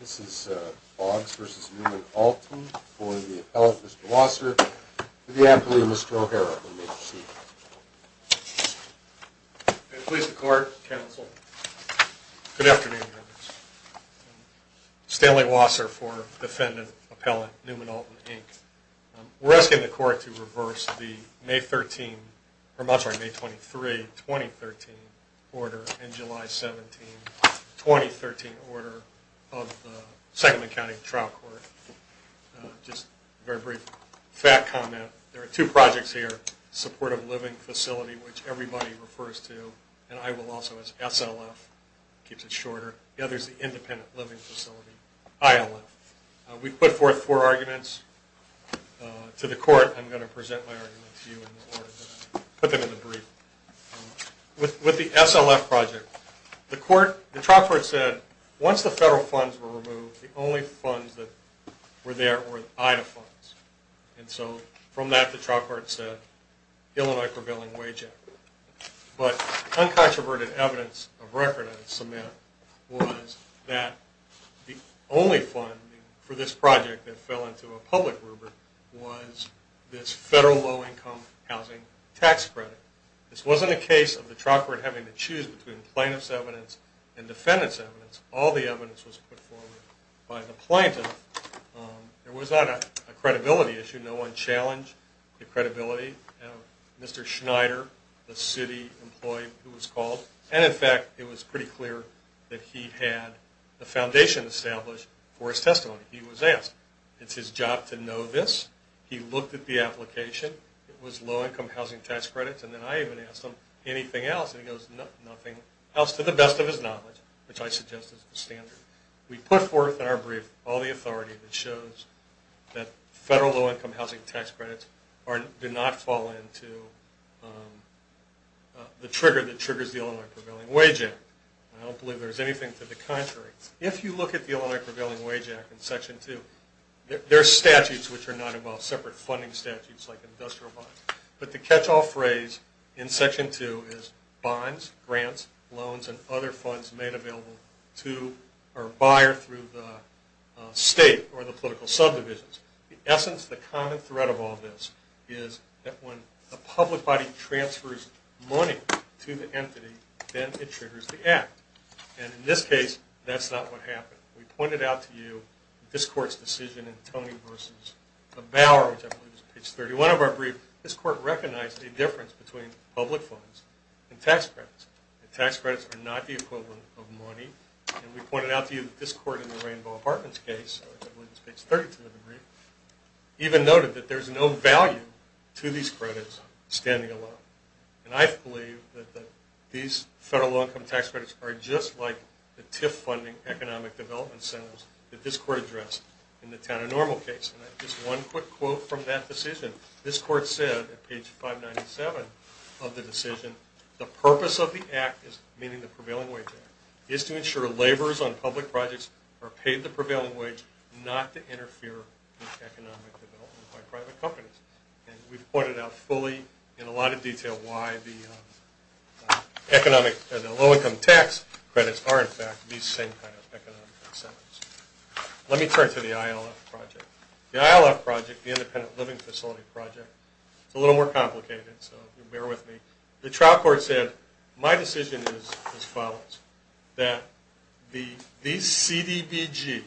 This is Boggs v. Newman-Alton for the appellate, Mr. Wasser, to the appellee, Mr. O'Hara, if you may proceed. I please the court, counsel. Good afternoon, members. Stanley Wasser for defendant, appellate, Newman-Alton, Inc. We're asking the court to reverse the May 23, 2013 order and July 17, 2013 order of the Sacramento County Trial Court. Just a very brief fact comment. There are two projects here. Supportive Living Facility, which everybody refers to, and I will also as SLF, keeps it shorter. The other is the Independent Living Facility, ILF. We put forth four arguments to the court. I'm going to present my arguments to you in the order that I put them in the brief. With the SLF project, the court, the trial court said, once the federal funds were removed, the only funds that were there were IDA funds. And so from that, the trial court said, Illinois Prevailing Wage Act. But uncontroverted evidence of record I submit was that the only funding for this project that fell into a public rubric was this federal low-income housing tax credit. This wasn't a case of the trial court having to choose between plaintiff's evidence and defendant's evidence. All the evidence was put forward by the plaintiff. There was not a credibility issue. No one challenged the credibility of Mr. Schneider, the city employee who was called. And in fact, it was pretty clear that he had the foundation established for his testimony. He was asked. It's his job to know this. He looked at the application. It was low-income housing tax credits. And then I even asked him, anything else? And he goes, nothing else to the best of his knowledge, which I suggest is the standard. We put forth in our brief all the authority that shows that federal low-income housing tax credits do not fall into the trigger that triggers the Illinois Prevailing Wage Act. I don't believe there's anything to the contrary. If you look at the Illinois Prevailing Wage Act in Section 2, there are statutes which are not involved, separate funding statutes like industrial bonds. But the catch-all phrase in Section 2 is bonds, grants, loans, and other funds made available to a buyer through the state or the political subdivisions. In essence, the common thread of all this is that when a public body transfers money to the entity, then it triggers the act. And in this case, that's not what happened. We pointed out to you this Court's decision in Tony v. Bauer, which I believe is page 31 of our brief. This Court recognized the difference between public funds and tax credits. Tax credits are not the equivalent of money. And we pointed out to you that this Court in the Rainbow Apartments case, which I believe is page 32 of the brief, even noted that there's no value to these credits standing alone. And I believe that these federal low-income tax credits are just like the TIF funding economic development centers that this Court addressed in the Town of Normal case. And just one quick quote from that decision. This Court said at page 597 of the decision, the purpose of the act, meaning the Prevailing Wage Act, is to ensure laborers on public projects are paid the prevailing wage, not to interfere with economic development by private companies. And we've pointed out fully in a lot of detail why the low-income tax credits are, in fact, these same kind of economic centers. Let me turn to the ILF project. The ILF project, the Independent Living Facility project, is a little more complicated, so bear with me. The trial court said, my decision is as follows, that these CDBG,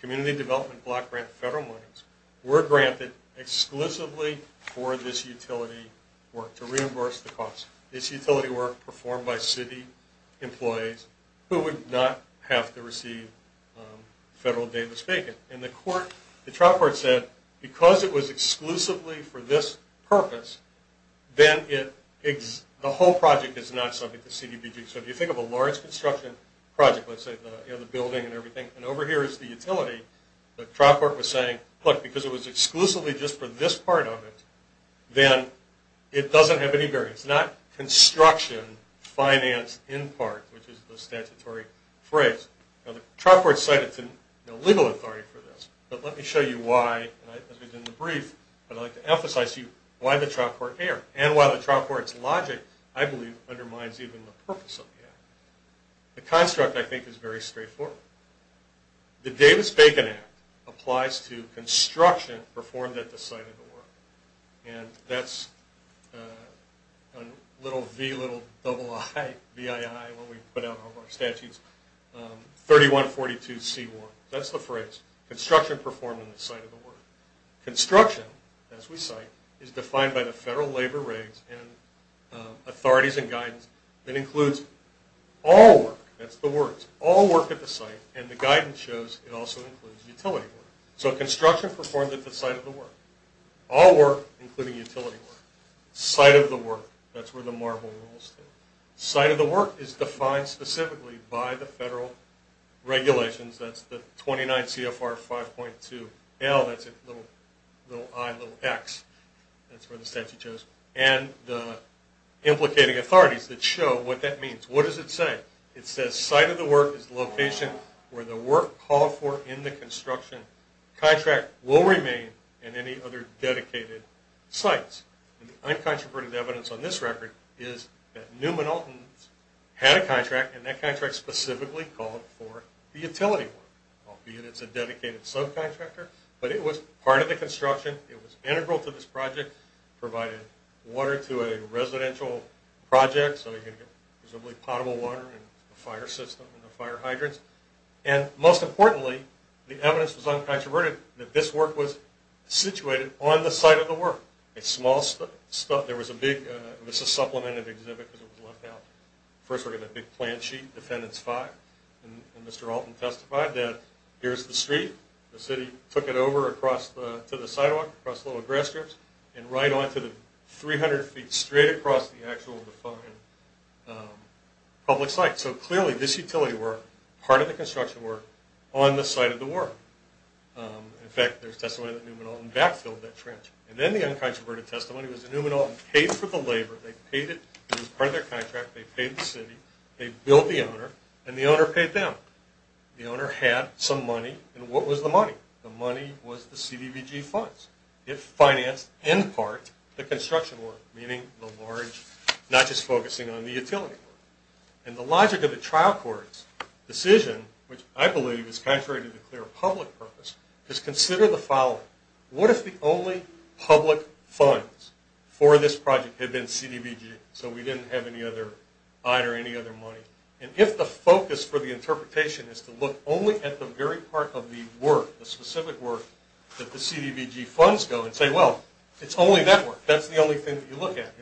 Community Development Block Grant federal monies, were granted exclusively for this utility work to reimburse the cost. This utility work performed by city employees who would not have to receive federal Davis-Bacon. And the trial court said, because it was exclusively for this purpose, then the whole project is not subject to CDBG. So if you think of a large construction project, let's say the building and everything, and over here is the utility, the trial court was saying, look, because it was exclusively just for this part of it, then it doesn't have any variance. Not construction, finance, in part, which is the statutory phrase. Now the trial court cited legal authority for this, but let me show you why, as we did in the brief. I'd like to emphasize to you why the trial court erred, and why the trial court's logic, I believe, undermines even the purpose of the act. The construct, I think, is very straightforward. The Davis-Bacon Act applies to construction performed at the site of the work. And that's a little V, little double I, V-I-I, when we put out all of our statutes, 3142C1. That's the phrase, construction performed at the site of the work. Construction, as we cite, is defined by the federal labor regs and authorities and guidance, that includes all work, that's the words, all work at the site, and the guidance shows it also includes utility work. So construction performed at the site of the work. All work, including utility work. Site of the work, that's where the marble rules. Site of the work is defined specifically by the federal regulations, that's the 29 CFR 5.2L, that's a little I, little X, that's where the statute shows, and the implicating authorities that show what that means. What does it say? It says site of the work is the location where the work called for in the construction contract will remain in any other dedicated sites. And the uncontroverted evidence on this record is that Newman Alton had a contract, and that contract specifically called for the utility work, albeit it's a dedicated subcontractor, but it was part of the construction, it was integral to this project, provided water to a residential project, so you can get presumably potable water and a fire system and the fire hydrants. And most importantly, the evidence was uncontroverted that this work was situated on the site of the work. A small, there was a big, this is a supplement of the exhibit because it was left out. First we're going to get the plan sheet, defendants five, and Mr. Alton testified that here's the street, the city took it over across to the sidewalk, across the little grass strips, and right onto the 300 feet straight across the actual defined public site. So clearly this utility work, part of the construction work, on the site of the work. In fact, there's testimony that Newman Alton backfilled that trench. And then the uncontroverted testimony was that Newman Alton paid for the labor, they paid it, it was part of their contract, they paid the city, they billed the owner, and the owner paid them. The owner had some money, and what was the money? The money was the CDBG funds. It financed, in part, the construction work, meaning the large, not just focusing on the utility work. And the logic of the trial court's decision, which I believe is contrary to the clear public purpose, is consider the following. What if the only public funds for this project had been CDBG, so we didn't have any other, either any other money. And if the focus for the interpretation is to look only at the very part of the work, the specific work, that the CDBG funds go and say, well, it's only that work, that's the only thing that you look at,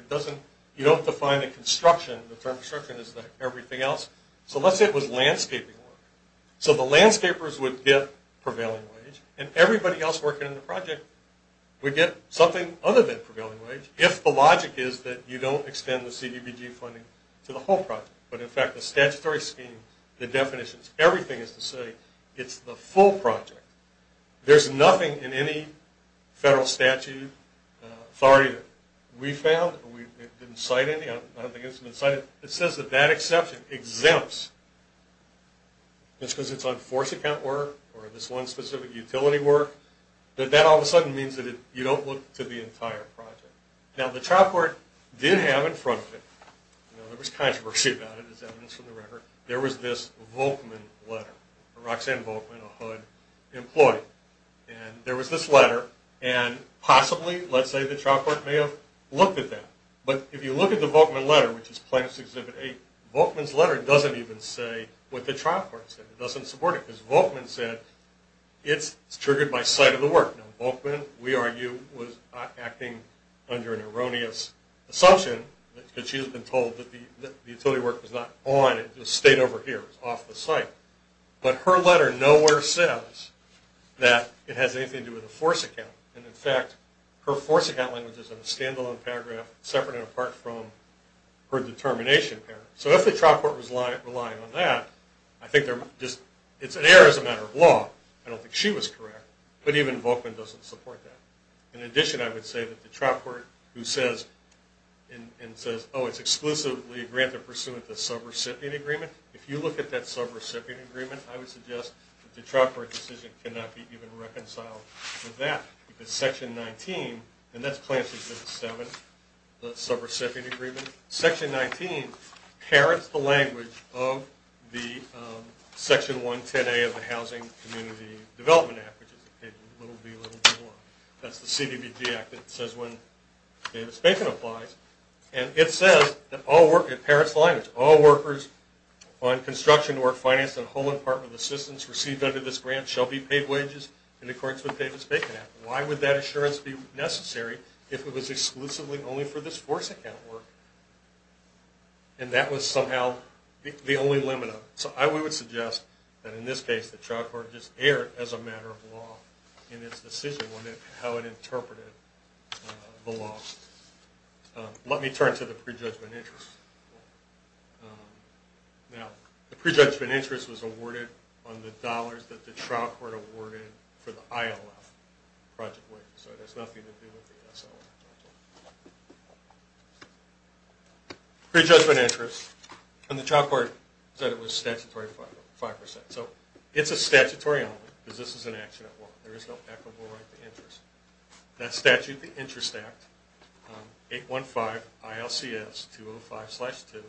you don't define the construction, the term construction is the everything else. So let's say it was landscaping work. So the landscapers would get prevailing wage, and everybody else working on the project would get something other than prevailing wage, if the logic is that you don't extend the CDBG funding to the whole project. But in fact, the statutory scheme, the definitions, everything is to say it's the full project. There's nothing in any federal statute, authority that we found, it didn't cite any, I don't think it's been cited, that says that that exception exempts, just because it's on force account work, or this one specific utility work, that that all of a sudden means that you don't look to the entire project. Now the trial court did have in front of it, there was controversy about it as evidence from the record, there was this Volkman letter, Roxanne Volkman, a HUD employee. And there was this letter, and possibly, let's say the trial court may have looked at that. But if you look at the Volkman letter, which is Plaintiff's Exhibit 8, Volkman's letter doesn't even say what the trial court said, it doesn't support it. Because Volkman said, it's triggered by sight of the work. Now Volkman, we argue, was acting under an erroneous assumption, because she had been told that the utility work was not on, it just stayed over here, it was off the site. But her letter nowhere says that it has anything to do with a force account. And in fact, her force account language is in a standalone paragraph, separate and apart from her determination paragraph. So if the trial court was relying on that, I think it's an error as a matter of law. I don't think she was correct. But even Volkman doesn't support that. In addition, I would say that the trial court who says, and says, oh, it's exclusively granted pursuant to the sub-recipient agreement, if you look at that sub-recipient agreement, I would suggest that the trial court decision cannot be even reconciled with that. Because Section 19, and that's Plaintiff's Exhibit 7, the sub-recipient agreement, Section 19 inherits the language of the Section 110A of the Housing Community Development Act, that's the CBBG Act that says when Davis-Bacon applies. And it says, in Parrott's language, all workers on construction, work finance, and home and apartment assistance received under this grant shall be paid wages in accordance with Davis-Bacon Act. Why would that assurance be necessary if it was exclusively only for this force account work? And that was somehow the only limit of it. So I would suggest that in this case the trial court just erred as a matter of law in its decision on how it interpreted the law. Let me turn to the pre-judgment interest. Now, the pre-judgment interest was awarded on the dollars that the trial court awarded for the ILF project wing, so it has nothing to do with the SLF project wing. Pre-judgment interest, and the trial court said it was statutory 5%. So it's a statutory element, because this is an action at law. There is no equitable right to interest. That statute, the Interest Act, 815 ILCS 205-2,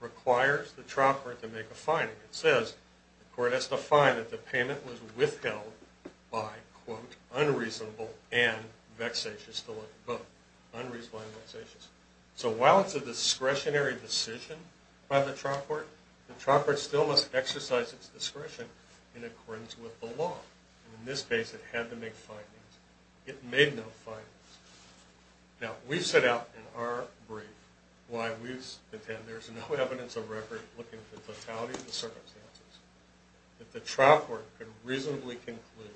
requires the trial court to make a finding. It says the court has to find that the payment was withheld by, quote, unreasonable and vexatious to look at, both unreasonable and vexatious. So while it's a discretionary decision by the trial court, the trial court still must exercise its discretion in accordance with the law. And in this case it had to make findings. It made no findings. Now, we've set out in our brief why we've said there's no evidence of record looking at the totality of the circumstances, that the trial court could reasonably conclude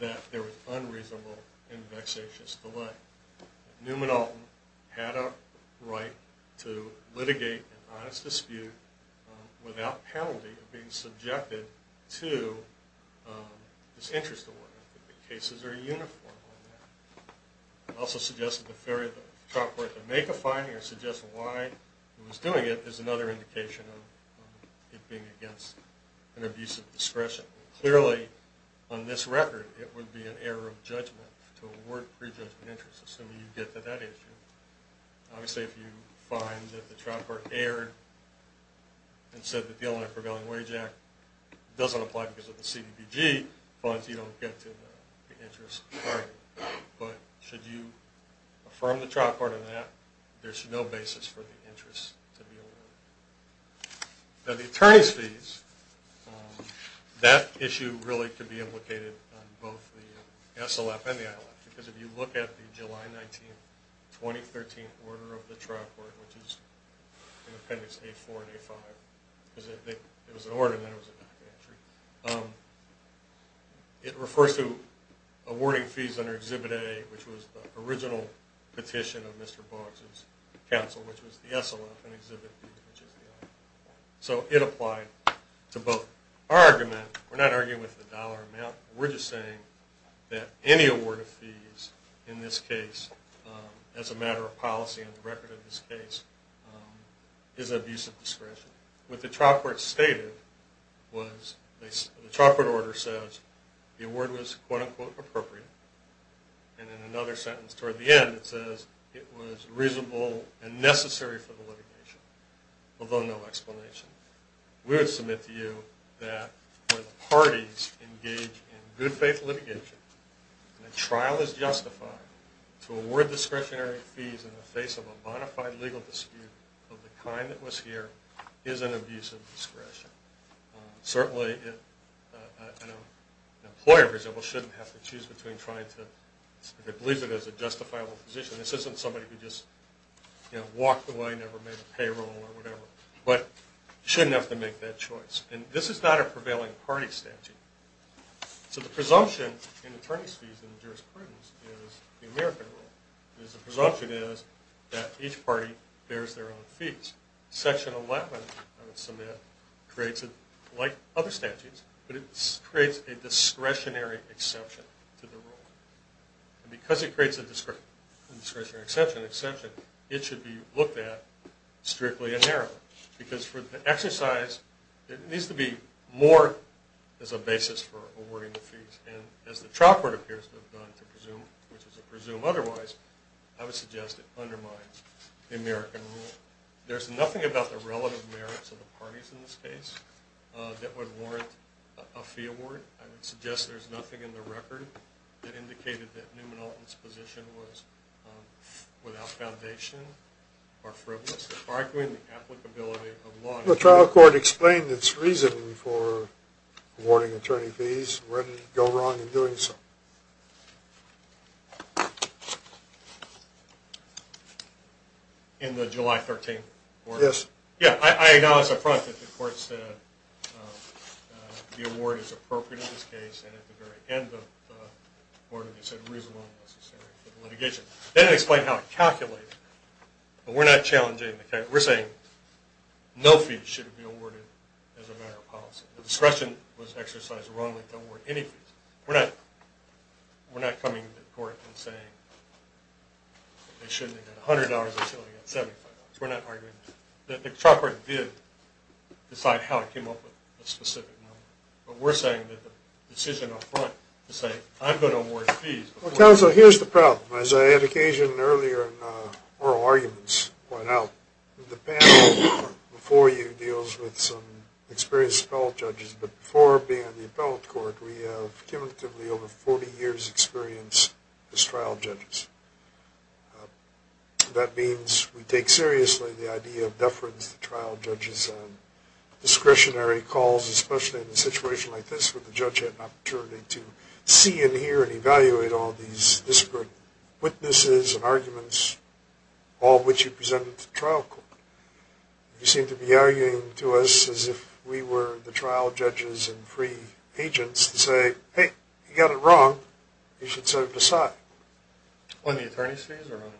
that there was unreasonable and vexatious delay. Newman Alton had a right to litigate an honest dispute without penalty of being subjected to this interest award. The cases are uniform on that. It also suggests that the failure of the trial court to make a finding or suggest why it was doing it is another indication of it being against an abuse of discretion. Clearly, on this record, it would be an error of judgment to award prejudgment interest assuming you get to that issue. Obviously, if you find that the trial court erred and said that the Illinois Prevailing Wage Act doesn't apply because of the CDBG funds, you don't get to the interest argument. But should you affirm the trial court on that, there's no basis for the interest to be awarded. Now, the attorney's fees, that issue really could be implicated on both the SLF and the ILF because if you look at the July 19, 2013 order of the trial court, which is in Appendix A-4 and A-5, because it was an order and then it was a back entry, it refers to awarding fees under Exhibit A, which was the original petition of Mr. Boggs' counsel, which was the SLF and Exhibit B, which is the ILF. So it applied to both. Our argument, we're not arguing with the dollar amount. We're just saying that any award of fees in this case as a matter of policy on the record of this case is abuse of discretion. What the trial court stated was the trial court order says the award was quote-unquote appropriate. And in another sentence toward the end it says it was reasonable and necessary for the litigation, although no explanation. We would submit to you that where the parties engage in good faith litigation and the trial is justified to award discretionary fees in the face of a bona fide legal dispute of the kind that was here is an abuse of discretion. Certainly an employer, for example, shouldn't have to choose between trying to believe that there's a justifiable position. This isn't somebody who just walked away, never made a payroll or whatever. But shouldn't have to make that choice. And this is not a prevailing party statute. So the presumption in attorney's fees and jurisprudence is the American rule. The presumption is that each party bears their own fees. Section 11, I would submit, creates it like other statutes, but it creates a discretionary exception to the rule. And because it creates a discretionary exception, it should be looked at strictly and narrowly. Because for the exercise, it needs to be more as a basis for awarding the fees. And as the trial court appears to have done to presume otherwise, I would suggest it undermines the American rule. There's nothing about the relative merits of the parties in this case that would warrant a fee award. I would suggest there's nothing in the record that indicated that Newman Alton's position was without foundation or frivolous. Arguing the applicability of law. The trial court explained its reasoning for awarding attorney fees, when to go wrong in doing so. In the July 13th order? Yes. Yeah, I acknowledge up front that the court said the award is appropriate in this case, and at the very end of the order they said reasonable and necessary for litigation. Then it explained how it calculated. But we're not challenging the calculation. We're saying no fees should be awarded as a matter of policy. The discretion was exercised wrongly to award any fees. We're not coming to court and saying they shouldn't get $100 until they get $75. We're not arguing that. The trial court did decide how it came up with a specific number. But we're saying that the decision up front to say I'm going to award fees. Counsel, here's the problem. As I had occasion earlier in oral arguments pointed out, the panel before you deals with some experienced appellate judges. But before being on the appellate court, we have cumulatively over 40 years' experience as trial judges. That means we take seriously the idea of deference to trial judges on discretionary calls, especially in a situation like this where the judge had an opportunity to see and hear and evaluate all these disparate witnesses and arguments, all of which you presented to the trial court. You seem to be arguing to us as if we were the trial judges and free agents to say, hey, you got it wrong. You should set it aside. On the attorney's fees or on?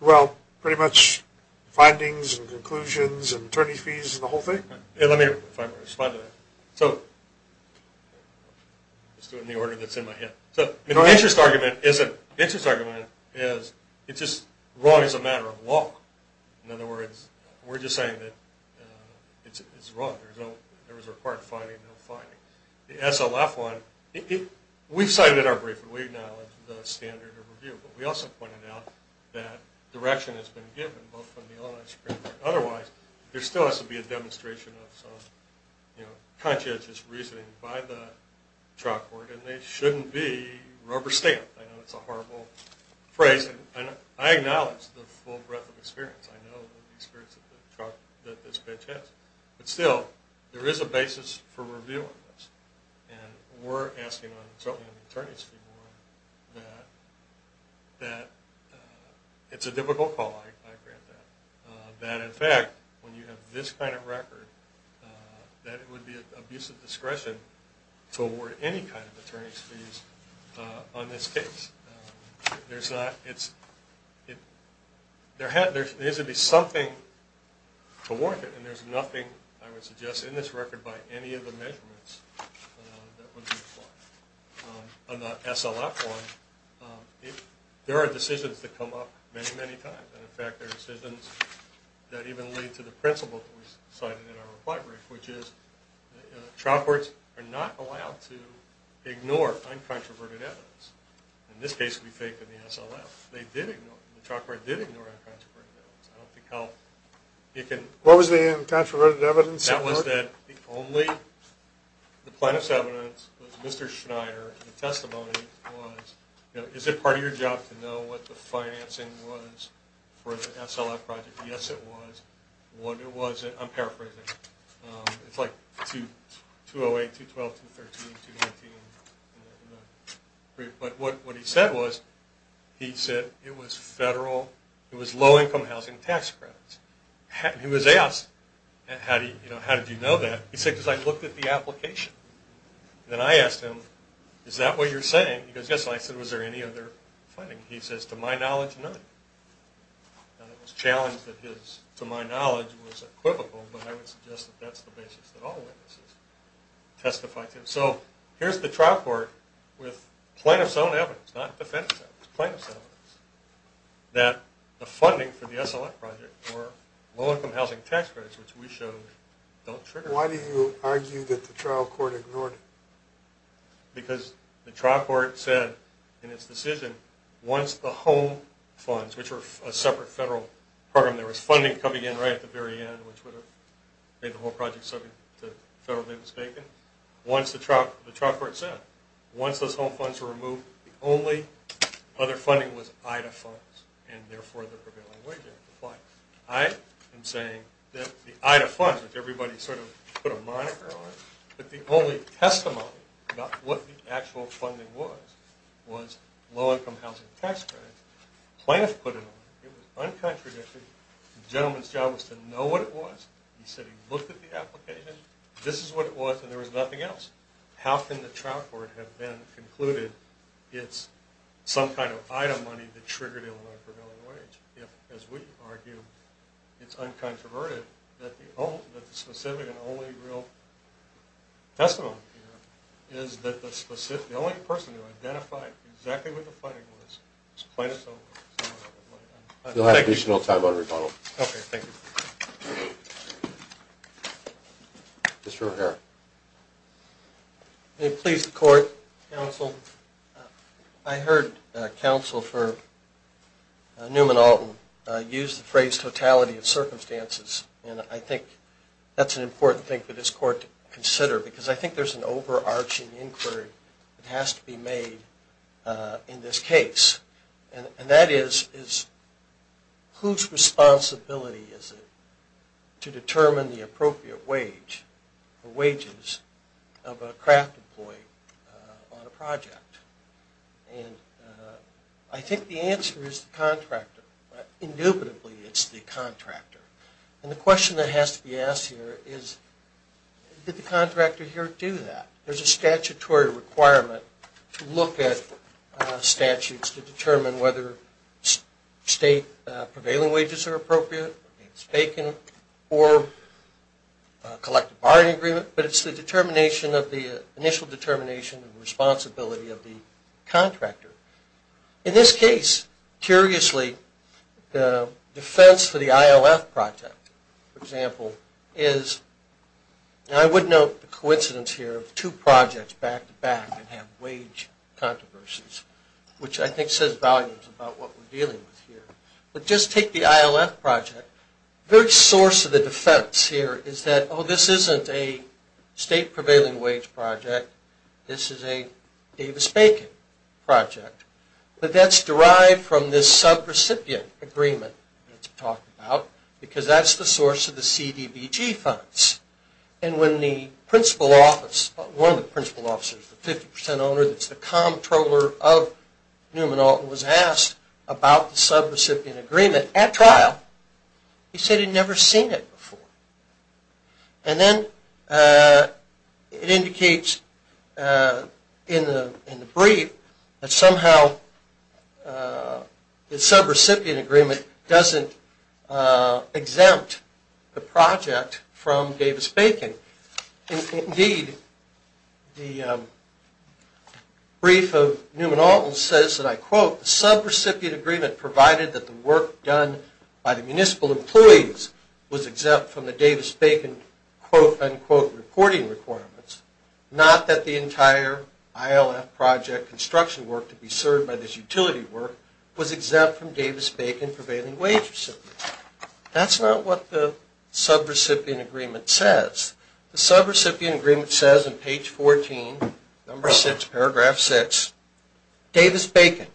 Well, pretty much findings and conclusions and attorney fees and the whole thing. Let me find a way to respond to that. Just doing the order that's in my head. The interest argument is wrong as a matter of law. In other words, we're just saying that it's wrong. There was a required finding, no finding. The SLF one, we've cited it in our briefing. We acknowledge the standard of review. But we also pointed out that direction has been given both from the Illinois Supreme Court. Otherwise, there still has to be a demonstration of some conscientious reasoning by the trial court, and it shouldn't be rubber stamped. I know it's a horrible phrase. I acknowledge the full breadth of experience. I know the experience that this bench has. But still, there is a basis for reviewing this. And we're asking, certainly on the attorney's fee one, that it's a difficult call. I grant that. That, in fact, when you have this kind of record, that it would be an abuse of discretion to award any kind of attorney's fees on this case. There has to be something to warrant it. And there's nothing, I would suggest, in this record by any of the measurements that would be applied. On the SLF one, there are decisions that come up many, many times. And, in fact, there are decisions that even lead to the principle that was cited in our reply brief, which is trial courts are not allowed to ignore uncontroverted evidence. In this case, it would be fake in the SLF. They did ignore it. The trial court did ignore uncontroverted evidence. I don't think how you can... What was the uncontroverted evidence? That was that the only, the plaintiff's evidence was Mr. Schneider. The testimony was, you know, is it part of your job to know what the financing was for the SLF project? Yes, it was. What it wasn't, I'm paraphrasing. It's like 208, 212, 213, 219. But what he said was, he said it was federal, it was low-income housing tax credits. He was asked, you know, how did you know that? He said, because I looked at the application. Then I asked him, is that what you're saying? He goes, yes. I said, was there any other funding? He says, to my knowledge, none. And it was challenged that his, to my knowledge, was equivocal, but I would suggest that that's the basis that all witnesses testify to. So here's the trial court with plaintiff's own evidence, not defense evidence, plaintiff's own evidence, that the funding for the SLF project were low-income housing tax credits, which we showed don't trigger. Why do you argue that the trial court ignored it? Because the trial court said, in its decision, once the home funds, which were a separate federal program, there was funding coming in right at the very end, which would have made the whole project subject to federally mistaken. Once the trial court said, once those home funds were removed, the only other funding was IDA funds, and therefore the prevailing way to apply. I am saying that the IDA funds, which everybody sort of put a moniker on, but the only testimony about what the actual funding was, was low-income housing tax credits. Plaintiff put it on. It was uncontroverted. The gentleman's job was to know what it was. He said he looked at the application. This is what it was, and there was nothing else. How can the trial court have then concluded it's some kind of IDA money that triggered Illinois prevailing wage if, as we argue, it's uncontroverted, that the specific and only real testimony here is that the only person who identified exactly what the funding was was Plaintiff. We'll have additional time on rebuttal. Okay, thank you. Mr. O'Hara. May it please the court, counsel, I heard counsel for Newman Alton use the phrase totality of circumstances, and I think that's an important thing for this court to consider because I think there's an overarching inquiry that has to be made in this case, and that is whose responsibility is it to determine the appropriate wage And I think the answer is the contractor. Indubitably, it's the contractor. And the question that has to be asked here is did the contractor here do that? There's a statutory requirement to look at statutes to determine whether state prevailing wages are appropriate. It's vacant or a collective bargaining agreement, but it's the determination of the initial determination and responsibility of the contractor. In this case, curiously, the defense for the IOF project, for example, is I would note the coincidence here of two projects back-to-back and have wage controversies, which I think says volumes about what we're dealing with here. But just take the IOF project. The source of the defense here is that, oh, this isn't a state prevailing wage project. This is a Davis-Bacon project. But that's derived from this sub-recipient agreement that's talked about because that's the source of the CDBG funds. And when the principal office, one of the principal offices, the 50 percent owner, that's the comptroller of Newman-Alton, was asked about the sub-recipient agreement at trial, he said he'd never seen it before. And then it indicates in the brief that somehow the sub-recipient agreement doesn't exempt the project from Davis-Bacon. Indeed, the brief of Newman-Alton says that, I quote, quote, unquote, reporting requirements, not that the entire ILF project construction work to be served by this utility work was exempt from Davis-Bacon prevailing wage recipients. That's not what the sub-recipient agreement says. The sub-recipient agreement says in page 14, number 6, paragraph 6, Davis-Bacon,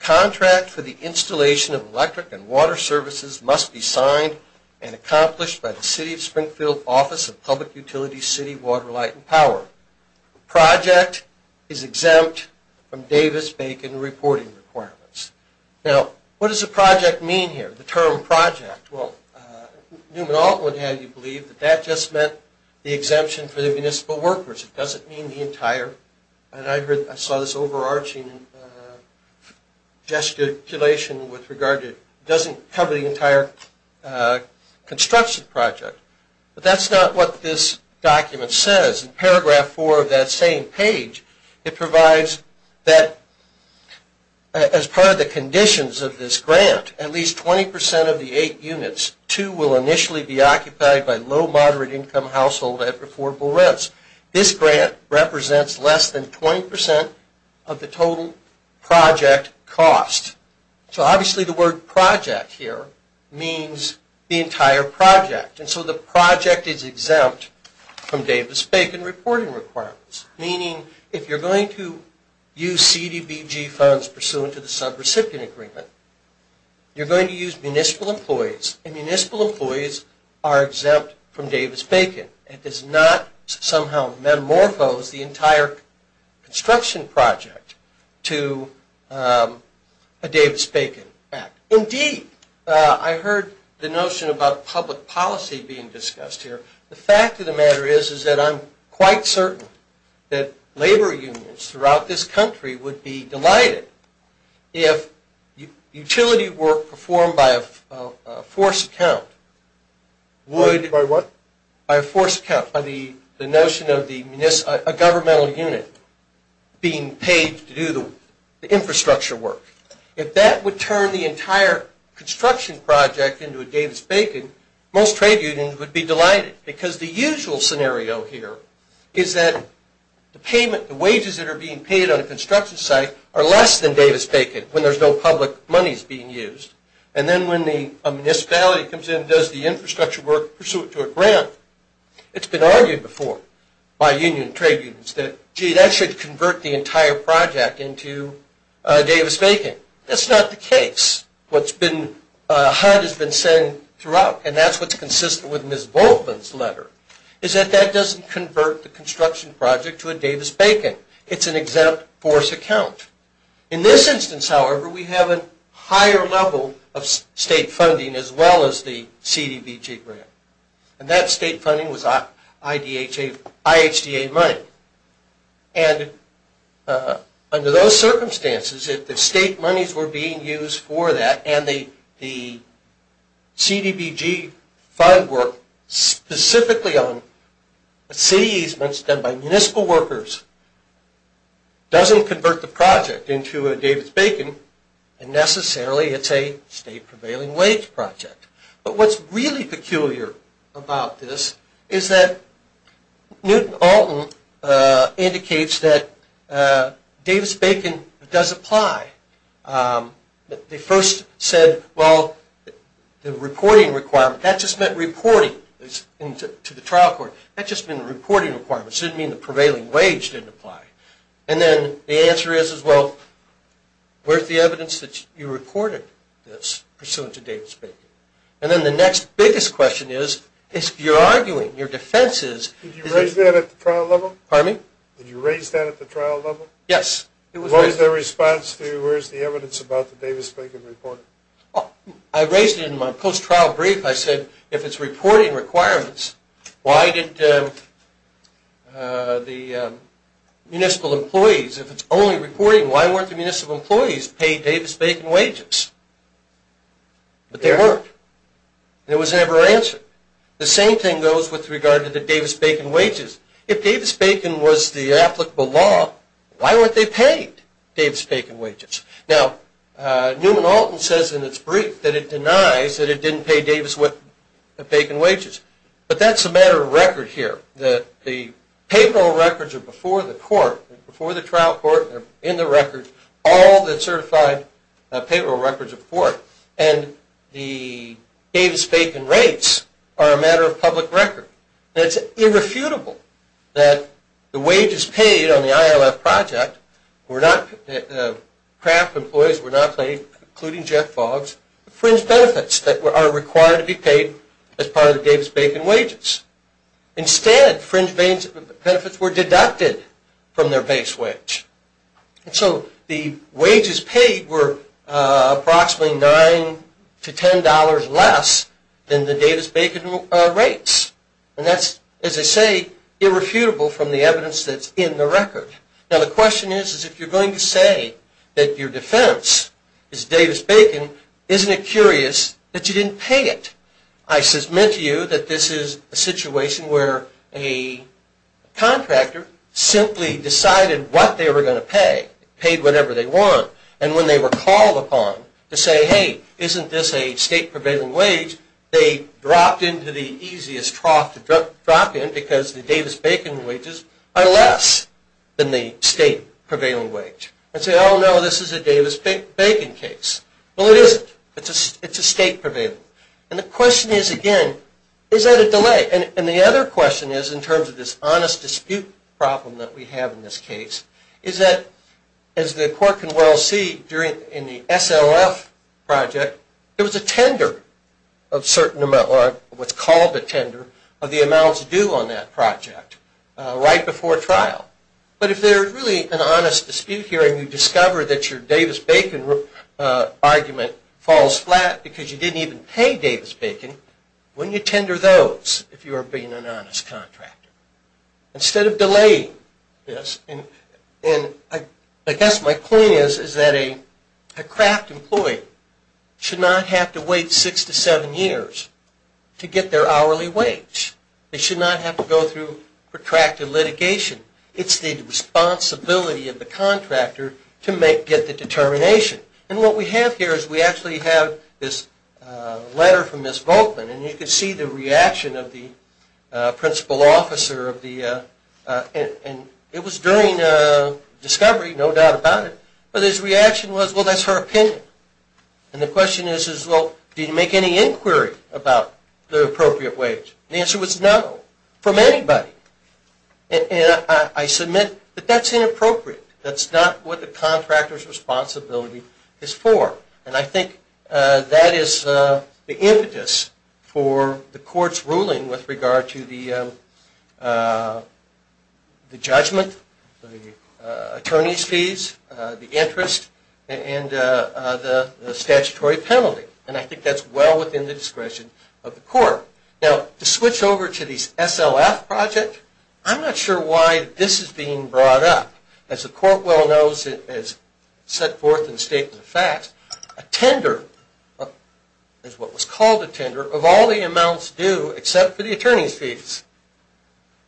contract for the installation of electric and water services must be signed and accomplished by the City of Springfield Office of Public Utilities, City, Water, Light, and Power. The project is exempt from Davis-Bacon reporting requirements. Now, what does the project mean here, the term project? Well, Newman-Alton would have you believe that that just meant the exemption for the municipal workers. It doesn't mean the entire, and I saw this overarching gesticulation with regard to, doesn't cover the entire construction project. But that's not what this document says. In paragraph 4 of that same page, it provides that as part of the conditions of this grant, at least 20% of the 8 units, 2 will initially be occupied by low-moderate income household at affordable rents. This grant represents less than 20% of the total project cost. So obviously the word project here means the entire project. And so the project is exempt from Davis-Bacon reporting requirements, meaning if you're going to use CDBG funds pursuant to the sub-recipient agreement, you're going to use municipal employees, and municipal employees are exempt from Davis-Bacon. It does not somehow metamorphose the entire construction project to a Davis-Bacon act. Indeed, I heard the notion about public policy being discussed here. The fact of the matter is that I'm quite certain that labor unions throughout this country would be delighted if utility work performed by a force account would... By what? By a force account, by the notion of a governmental unit being paid to do the infrastructure work. If that would turn the entire construction project into a Davis-Bacon, most trade unions would be delighted, because the usual scenario here is that the wages that are being paid on a construction site are less than Davis-Bacon when there's no public monies being used. And then when a municipality comes in and does the infrastructure work pursuant to a grant, it's been argued before by union trade unions that, gee, that should convert the entire project into a Davis-Bacon. That's not the case. What HUD has been saying throughout, and that's what's consistent with Ms. Volkman's letter, is that that doesn't convert the construction project to a Davis-Bacon. It's an exempt force account. In this instance, however, we have a higher level of state funding as well as the CDBG grant. And that state funding was IHDA money. And under those circumstances, if the state monies were being used for that, and the CDBG fund work specifically on city easements done by municipal workers doesn't convert the project into a Davis-Bacon, and necessarily it's a state prevailing wage project. But what's really peculiar about this is that Newton-Alton indicates that Davis-Bacon does apply. They first said, well, the reporting requirement. That just meant reporting to the trial court. That just meant the reporting requirements. It didn't mean the prevailing wage didn't apply. And then the answer is, well, where's the evidence that you reported this pursuant to Davis-Bacon? And then the next biggest question is, if you're arguing, your defense is… Did you raise that at the trial level? Pardon me? Did you raise that at the trial level? Yes. What was their response to, where's the evidence about the Davis-Bacon report? I raised it in my post-trial brief. I said, if it's reporting requirements, why did the municipal employees, if it's only reporting, why weren't the municipal employees paid Davis-Bacon wages? But they weren't. There was never an answer. The same thing goes with regard to the Davis-Bacon wages. If Davis-Bacon was the applicable law, why weren't they paid Davis-Bacon wages? Now, Neumann-Alton says in its brief that it denies that it didn't pay Davis-Bacon wages. But that's a matter of record here. The payroll records are before the court, before the trial court. They're in the records, all the certified payroll records of the court. And the Davis-Bacon rates are a matter of public record. It's irrefutable that the wages paid on the ILF project were not, craft employees were not paid, including Jeff Foggs, the fringe benefits that are required to be paid as part of the Davis-Bacon wages. Instead, fringe benefits were deducted from their base wage. And so the wages paid were approximately $9 to $10 less than the Davis-Bacon rates. And that's, as I say, irrefutable from the evidence that's in the record. Now, the question is, is if you're going to say that your defense is Davis-Bacon, isn't it curious that you didn't pay it? I submit to you that this is a situation where a contractor simply decided what they were going to pay, paid whatever they want. And when they were called upon to say, hey, isn't this a state prevailing wage, they dropped into the easiest trough to drop in because the Davis-Bacon wages are less than the state prevailing wage. And say, oh, no, this is a Davis-Bacon case. Well, it isn't. It's a state prevailing. And the question is, again, is that a delay? And the other question is, in terms of this honest dispute problem that we have in this case, is that, as the court can well see in the SLF project, there was a tender of what's called a tender of the amounts due on that project right before trial. But if there's really an honest dispute here and you discover that your Davis-Bacon argument falls flat because you didn't even pay Davis-Bacon, wouldn't you tender those if you were being an honest contractor? Instead of delaying this, and I guess my point is that a craft employee should not have to wait six to seven years to get their hourly wage. They should not have to go through protracted litigation. It's the responsibility of the contractor to get the determination. And what we have here is we actually have this letter from Ms. Volkman, and you can see the reaction of the principal officer. It was during discovery, no doubt about it. But his reaction was, well, that's her opinion. And the question is, well, did he make any inquiry about the appropriate wage? The answer was no, from anybody. And I submit that that's inappropriate. That's not what the contractor's responsibility is for. And I think that is the impetus for the court's ruling with regard to the judgment, the attorney's fees, the interest, and the statutory penalty. And I think that's well within the discretion of the court. Now, to switch over to the SLF project, I'm not sure why this is being brought up. As the court well knows and has set forth in the Statement of Facts, a tender is what was called a tender of all the amounts due except for the attorney's fees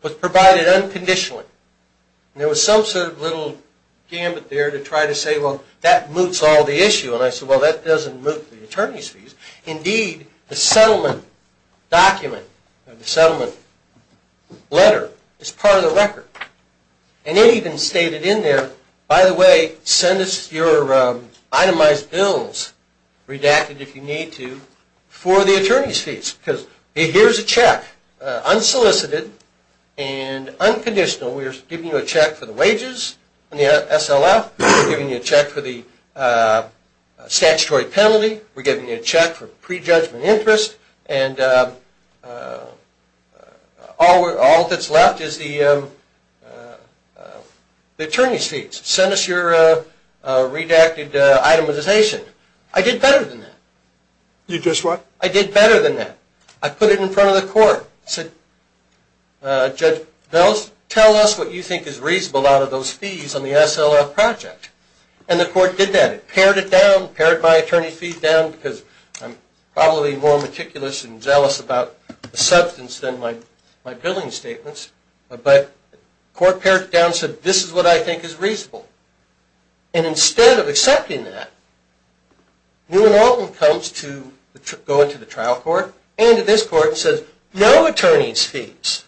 was provided unconditionally. And there was some sort of little gambit there to try to say, well, that moots all the issue. And I said, well, that doesn't moot the attorney's fees. Indeed, the settlement document or the settlement letter is part of the record. And it even stated in there, by the way, send us your itemized bills, redacted if you need to, for the attorney's fees. Because here's a check, unsolicited and unconditional. We're giving you a check for the wages in the SLF. We're giving you a check for the statutory penalty. We're giving you a check for prejudgment interest. And all that's left is the attorney's fees. Send us your redacted itemization. I did better than that. You did what? I did better than that. I put it in front of the court. I said, Judge Bells, tell us what you think is reasonable out of those fees on the SLF project. And the court did that. It pared it down, pared my attorney's fees down, because I'm probably more meticulous and jealous about the substance than my billing statements. But the court pared it down and said, this is what I think is reasonable. And instead of accepting that, New and Alton comes to go into the trial court and to this court and says, no attorney's fees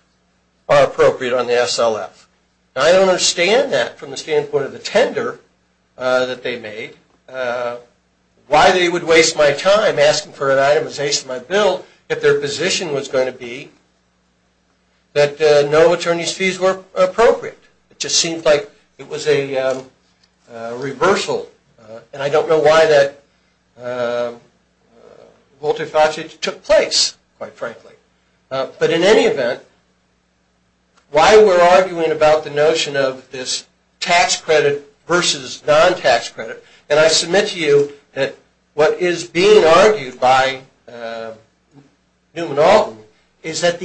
are appropriate on the SLF. And I don't understand that from the standpoint of the tender that they made, why they would waste my time asking for an itemization of my bill if their position was going to be that no attorney's fees were appropriate. It just seemed like it was a reversal. And I don't know why that multifaceted took place, quite frankly. But in any event, why we're arguing about the notion of this tax credit versus non-tax credit, and I submit to you that what is being argued by New and Alton is that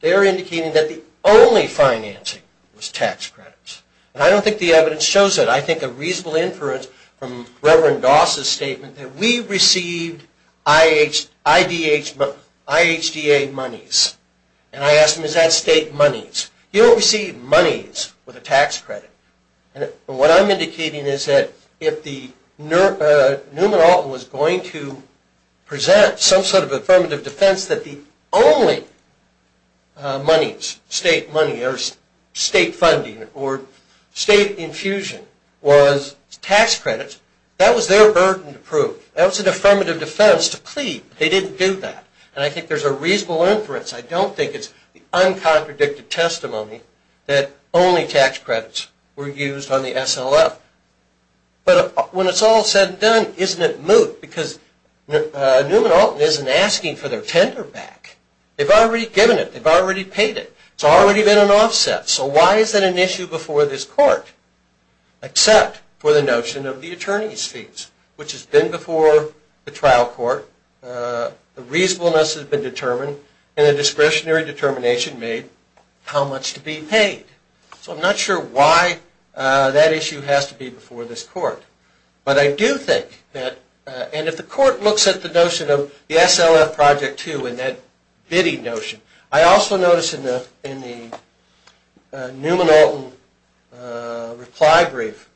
they're indicating that the only financing was tax credits. And I don't think the evidence shows that. I think a reasonable inference from Reverend Doss' statement that we received IHDA monies. And I asked him, is that state monies? You don't receive monies with a tax credit. And what I'm indicating is that if New and Alton was going to present some sort of affirmative defense that the only state money or state funding or state infusion was tax credits, that was their burden to prove. That was an affirmative defense to plead. They didn't do that. And I think there's a reasonable inference. I don't think it's the uncontradicted testimony that only tax credits were used on the SLF. But when it's all said and done, isn't it moot? Because New and Alton isn't asking for their tender back. They've already given it. They've already paid it. It's already been an offset. So why is that an issue before this court? Except for the notion of the attorney's fees, which has been before the trial court. The reasonableness has been determined. And a discretionary determination made how much to be paid. So I'm not sure why that issue has to be before this court. But I do think that, and if the court looks at the notion of the SLF Project II and that bidding notion, I also notice in the New and Alton reply brief,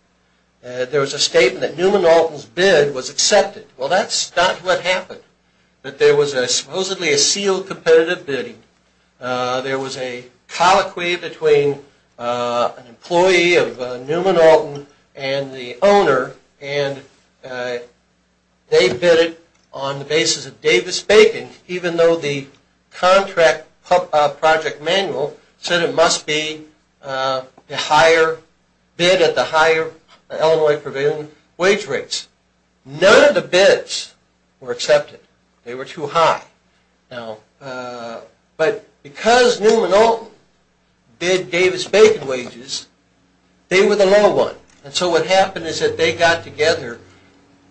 there was a statement that New and Alton's bid was accepted. Well, that's not what happened. That there was supposedly a sealed competitive bidding. There was a colloquy between an employee of New and Alton and the owner, and they bid it on the basis of Davis-Bacon, even though the contract project manual said it must be the higher bid at the higher Illinois provisional wage rates. None of the bids were accepted. They were too high. But because New and Alton bid Davis-Bacon wages, they were the low one. And so what happened is that they got together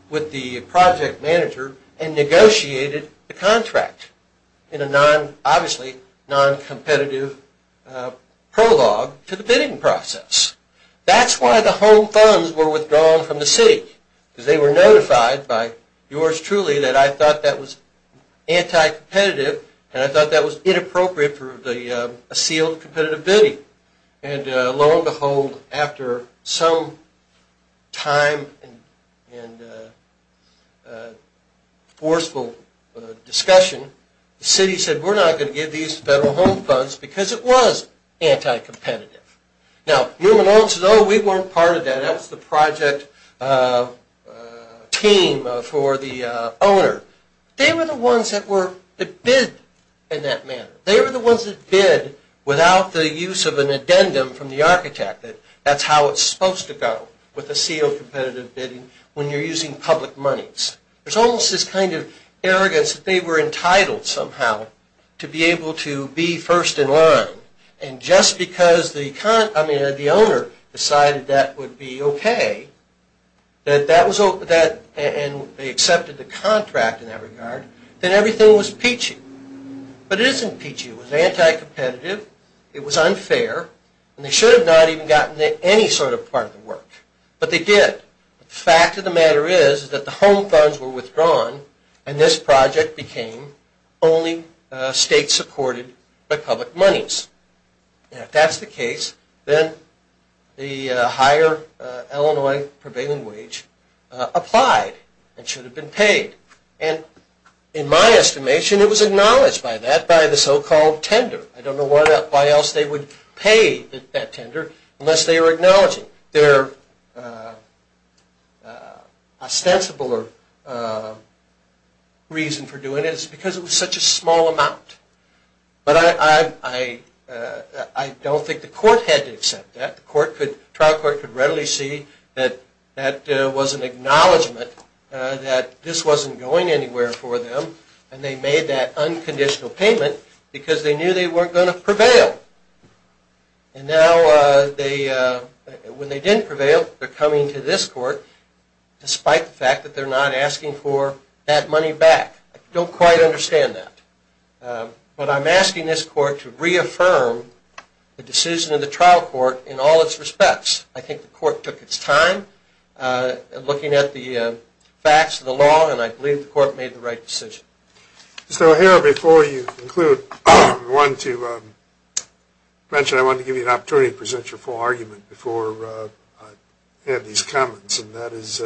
with the project manager and negotiated the contract in a non-competitive prologue to the bidding process. That's why the home funds were withdrawn from the city, because they were notified by yours truly that I thought that was anti-competitive and I thought that was inappropriate for a sealed competitive bidding. And lo and behold, after some time and forceful discussion, the city said we're not going to give these to federal home funds because it was anti-competitive. Now, New and Alton says, oh, we weren't part of that. That's the project team for the owner. They were the ones that bid in that manner. They were the ones that bid without the use of an addendum from the architect that that's how it's supposed to go with a sealed competitive bidding when you're using public monies. There's almost this kind of arrogance that they were entitled somehow to be able to be first in line. And just because the owner decided that would be okay and they accepted the contract in that regard, then everything was peachy. But it isn't peachy. It was anti-competitive. It was unfair. And they should have not even gotten to any sort of part of the work. But they did. The fact of the matter is that the home funds were withdrawn and this project became only state-supported by public monies. And if that's the case, then the higher Illinois prevailing wage applied and should have been paid. And in my estimation, it was acknowledged by that by the so-called tender. I don't know why else they would pay that tender unless they were acknowledging their ostensible reason for doing it. It's because it was such a small amount. But I don't think the court had to accept that. The trial court could readily see that that was an acknowledgment that this wasn't going anywhere for them, and they made that unconditional payment because they knew they weren't going to prevail. And now when they didn't prevail, they're coming to this court despite the fact that they're not asking for that money back. I don't quite understand that. But I'm asking this court to reaffirm the decision of the trial court in all its respects. I think the court took its time looking at the facts of the law, and I believe the court made the right decision. Mr. O'Hara, before you conclude, I wanted to mention I wanted to give you an opportunity to present your full argument before I have these comments. And that is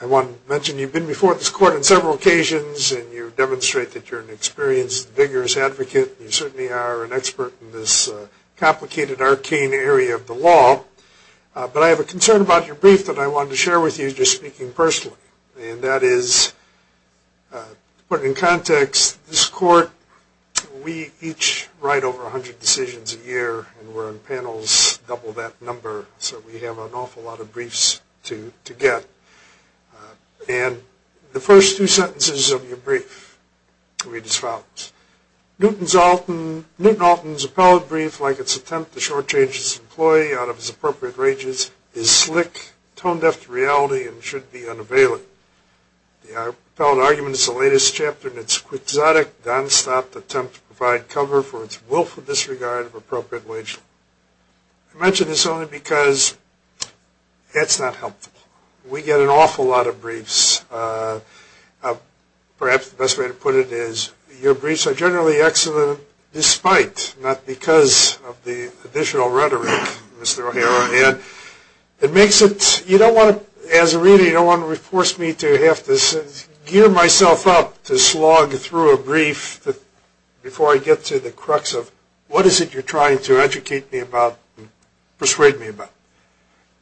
I want to mention you've been before this court on several occasions, and you demonstrate that you're an experienced, vigorous advocate. You certainly are an expert in this complicated, arcane area of the law. But I have a concern about your brief that I wanted to share with you just speaking personally, and that is to put it in context, this court, we each write over 100 decisions a year, and we're on panels double that number, so we have an awful lot of briefs to get. And the first two sentences of your brief read as follows. Newton Alton's appellate brief, like its attempt to shortchange his employee out of his appropriate rages, is slick, tone-deaf to reality, and should be unavailable. The appellate argument is the latest chapter in its quixotic, nonstop attempt to provide cover for its willful disregard of appropriate wages. I mention this only because it's not helpful. We get an awful lot of briefs. Perhaps the best way to put it is your briefs are generally excellent, not because of the additional rhetoric Mr. O'Hara had. It makes it, you don't want to, as a reader, you don't want to force me to have to gear myself up to slog through a brief before I get to the crux of what is it you're trying to educate me about, persuade me about.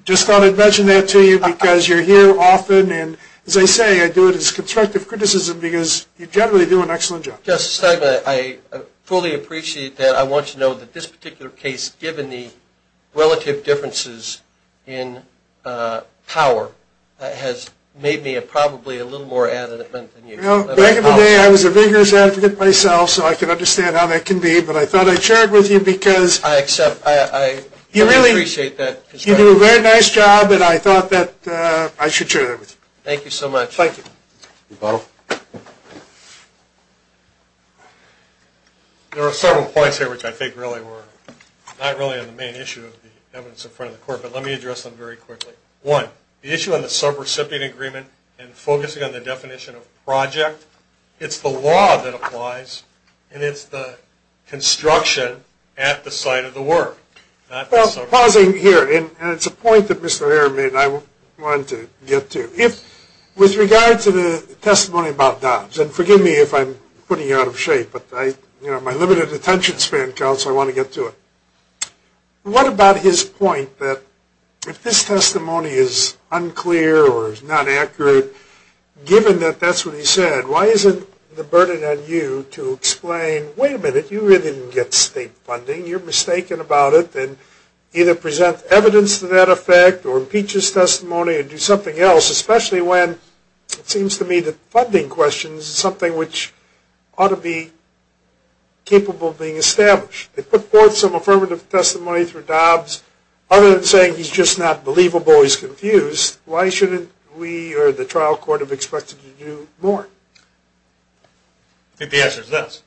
Just thought I'd mention that to you because you're here often, and as I say, I do it as constructive criticism because you generally do an excellent job. Justice Steinman, I fully appreciate that. I want you to know that this particular case, given the relative differences in power, has made me probably a little more adamant than you. Back in the day, I was a vigorous advocate myself, so I can understand how that can be, but I thought I'd share it with you because you do a very nice job, and I thought that I should share that with you. Thank you so much. Thank you. There are several points here which I think really were not really on the main issue of the evidence in front of the court, but let me address them very quickly. One, the issue on the subrecipient agreement and focusing on the definition of project, it's the law that applies, and it's the construction at the site of the work. Pausing here, and it's a point that Mr. O'Hara made and I wanted to get to. With regard to the testimony about Dobbs, and forgive me if I'm putting you out of shape, but my limited attention span counts, so I want to get to it. What about his point that if this testimony is unclear or is not accurate, given that that's what he said, why isn't the burden on you to explain, wait a minute, you really didn't get state funding, you're mistaken about it, and either present evidence to that effect or impeach his testimony and do something else, especially when it seems to me that funding questions is something which ought to be capable of being established. They put forth some affirmative testimony through Dobbs. Other than saying he's just not believable, he's confused, why shouldn't we or the trial court have expected to do more? I think the answer is this.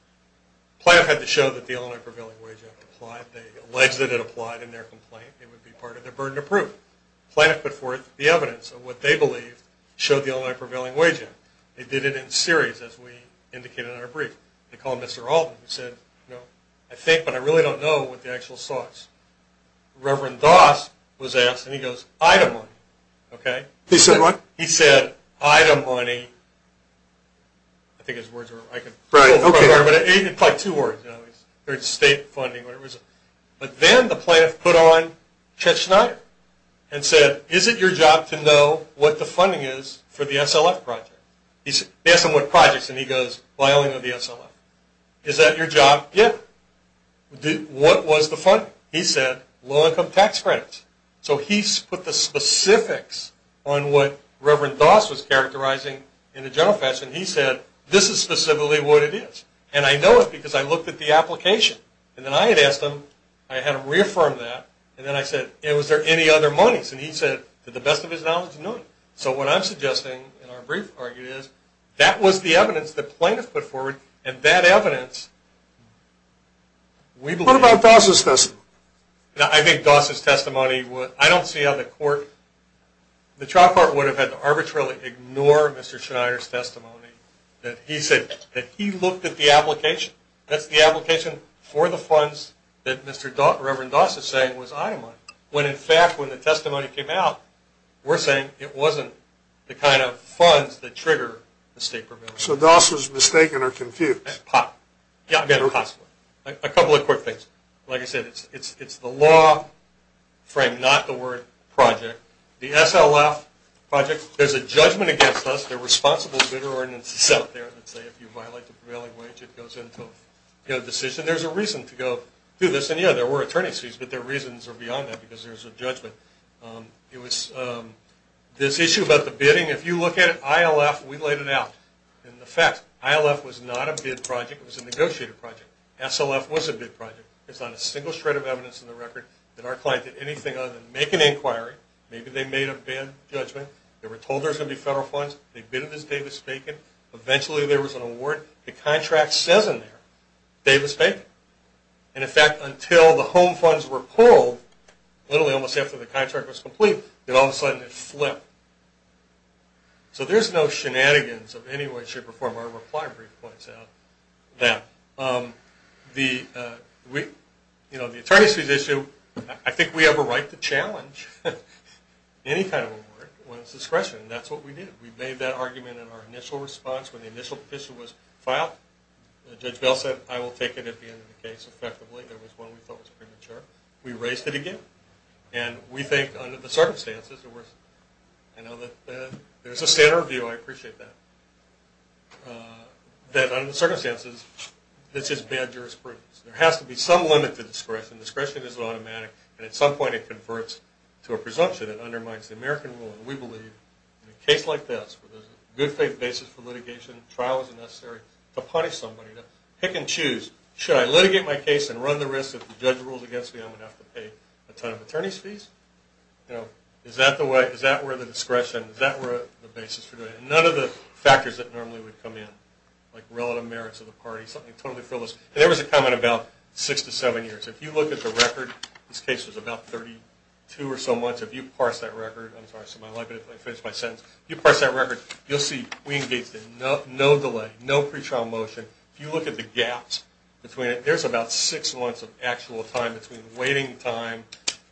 Planoff had to show that the Illinois Prevailing Wage Act applied. They alleged that it applied in their complaint. It would be part of their burden of proof. Planoff put forth the evidence of what they believed showed the Illinois Prevailing Wage Act. They did it in series, as we indicated in our brief. They called Mr. Alton and said, you know, I think, but I really don't know what the actual source. Reverend Doss was asked, and he goes, Ida money, okay? He said what? He said, Ida money. I think his words were, I can't remember. Right, okay. Probably two words, you know, state funding, whatever it was. But then the Planoff put on Chet Schneider and said, is it your job to know what the funding is for the SLF project? He asked him what projects, and he goes, Wyoming or the SLF. Is that your job? Yeah. What was the funding? He said, low income tax credits. So he put the specifics on what Reverend Doss was characterizing in a general fashion. He said, this is specifically what it is. And I know it because I looked at the application. And then I had asked him, I had him reaffirm that. And then I said, was there any other monies? And he said, to the best of his knowledge, no. So what I'm suggesting in our brief argument is that was the evidence that Planoff put forward, and that evidence, we believe. What about Doss' testimony? I think Doss' testimony, I don't see how the court, the trial court would have had to arbitrarily ignore Mr. Schneider's testimony. He said that he looked at the application. That's the application for the funds that Reverend Doss is saying was itemized. When, in fact, when the testimony came out, we're saying it wasn't the kind of funds that trigger the state prevailing wage. So Doss was mistaken or confused. Yeah, possibly. A couple of quick things. Like I said, it's the law frame, not the word project. The SLF project, there's a judgment against us. There are responsible bidder ordinances out there that say if you violate the prevailing wage, it goes into a decision. There's a reason to go do this. And, yeah, there were attorney's fees, but their reasons are beyond that because there's a judgment. It was this issue about the bidding. If you look at it, ILF, we laid it out. And the fact, ILF was not a bid project. It was a negotiated project. SLF was a bid project. There's not a single shred of evidence in the record that our client did anything other than make an inquiry. Maybe they made a bad judgment. They were told there was going to be federal funds. They bidded this Davis-Bacon. Eventually there was an award. The contract says in there, Davis-Bacon. And, in fact, until the home funds were pulled, literally almost after the contract was complete, then all of a sudden it flipped. So there's no shenanigans of any way it should perform. Our reply brief points out that. The attorney's fees issue, I think we have a right to challenge any kind of award. When it's discretion, that's what we did. We made that argument in our initial response. When the initial petition was filed, Judge Bell said, I will take it at the end of the case effectively. There was one we thought was premature. We raised it again. And we think under the circumstances, I know that there's a standard review. I appreciate that. That under the circumstances, this is bad jurisprudence. There has to be some limit to discretion. Discretion isn't automatic. And at some point it converts to a presumption. We believe in a case like this, where there's a good faith basis for litigation, trial isn't necessary, to punish somebody. To pick and choose. Should I litigate my case and run the risk that if the judge rules against me, I'm going to have to pay a ton of attorney's fees? Is that where the discretion, is that where the basis for doing it? None of the factors that normally would come in, like relative merits of the party, something totally frivolous. There was a comment about six to seven years. If you look at the record, this case was about 32 or so months. If you parse that record, you'll see we engaged in no delay, no pretrial motion. If you look at the gaps between it, there's about six months of actual time between waiting time,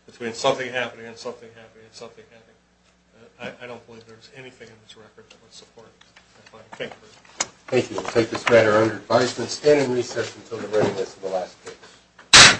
between something happening and something happening and something happening. I don't believe there's anything in this record that would support that kind of thing. Thank you. We'll take this matter under advisement, standing recess until the readiness of the last case.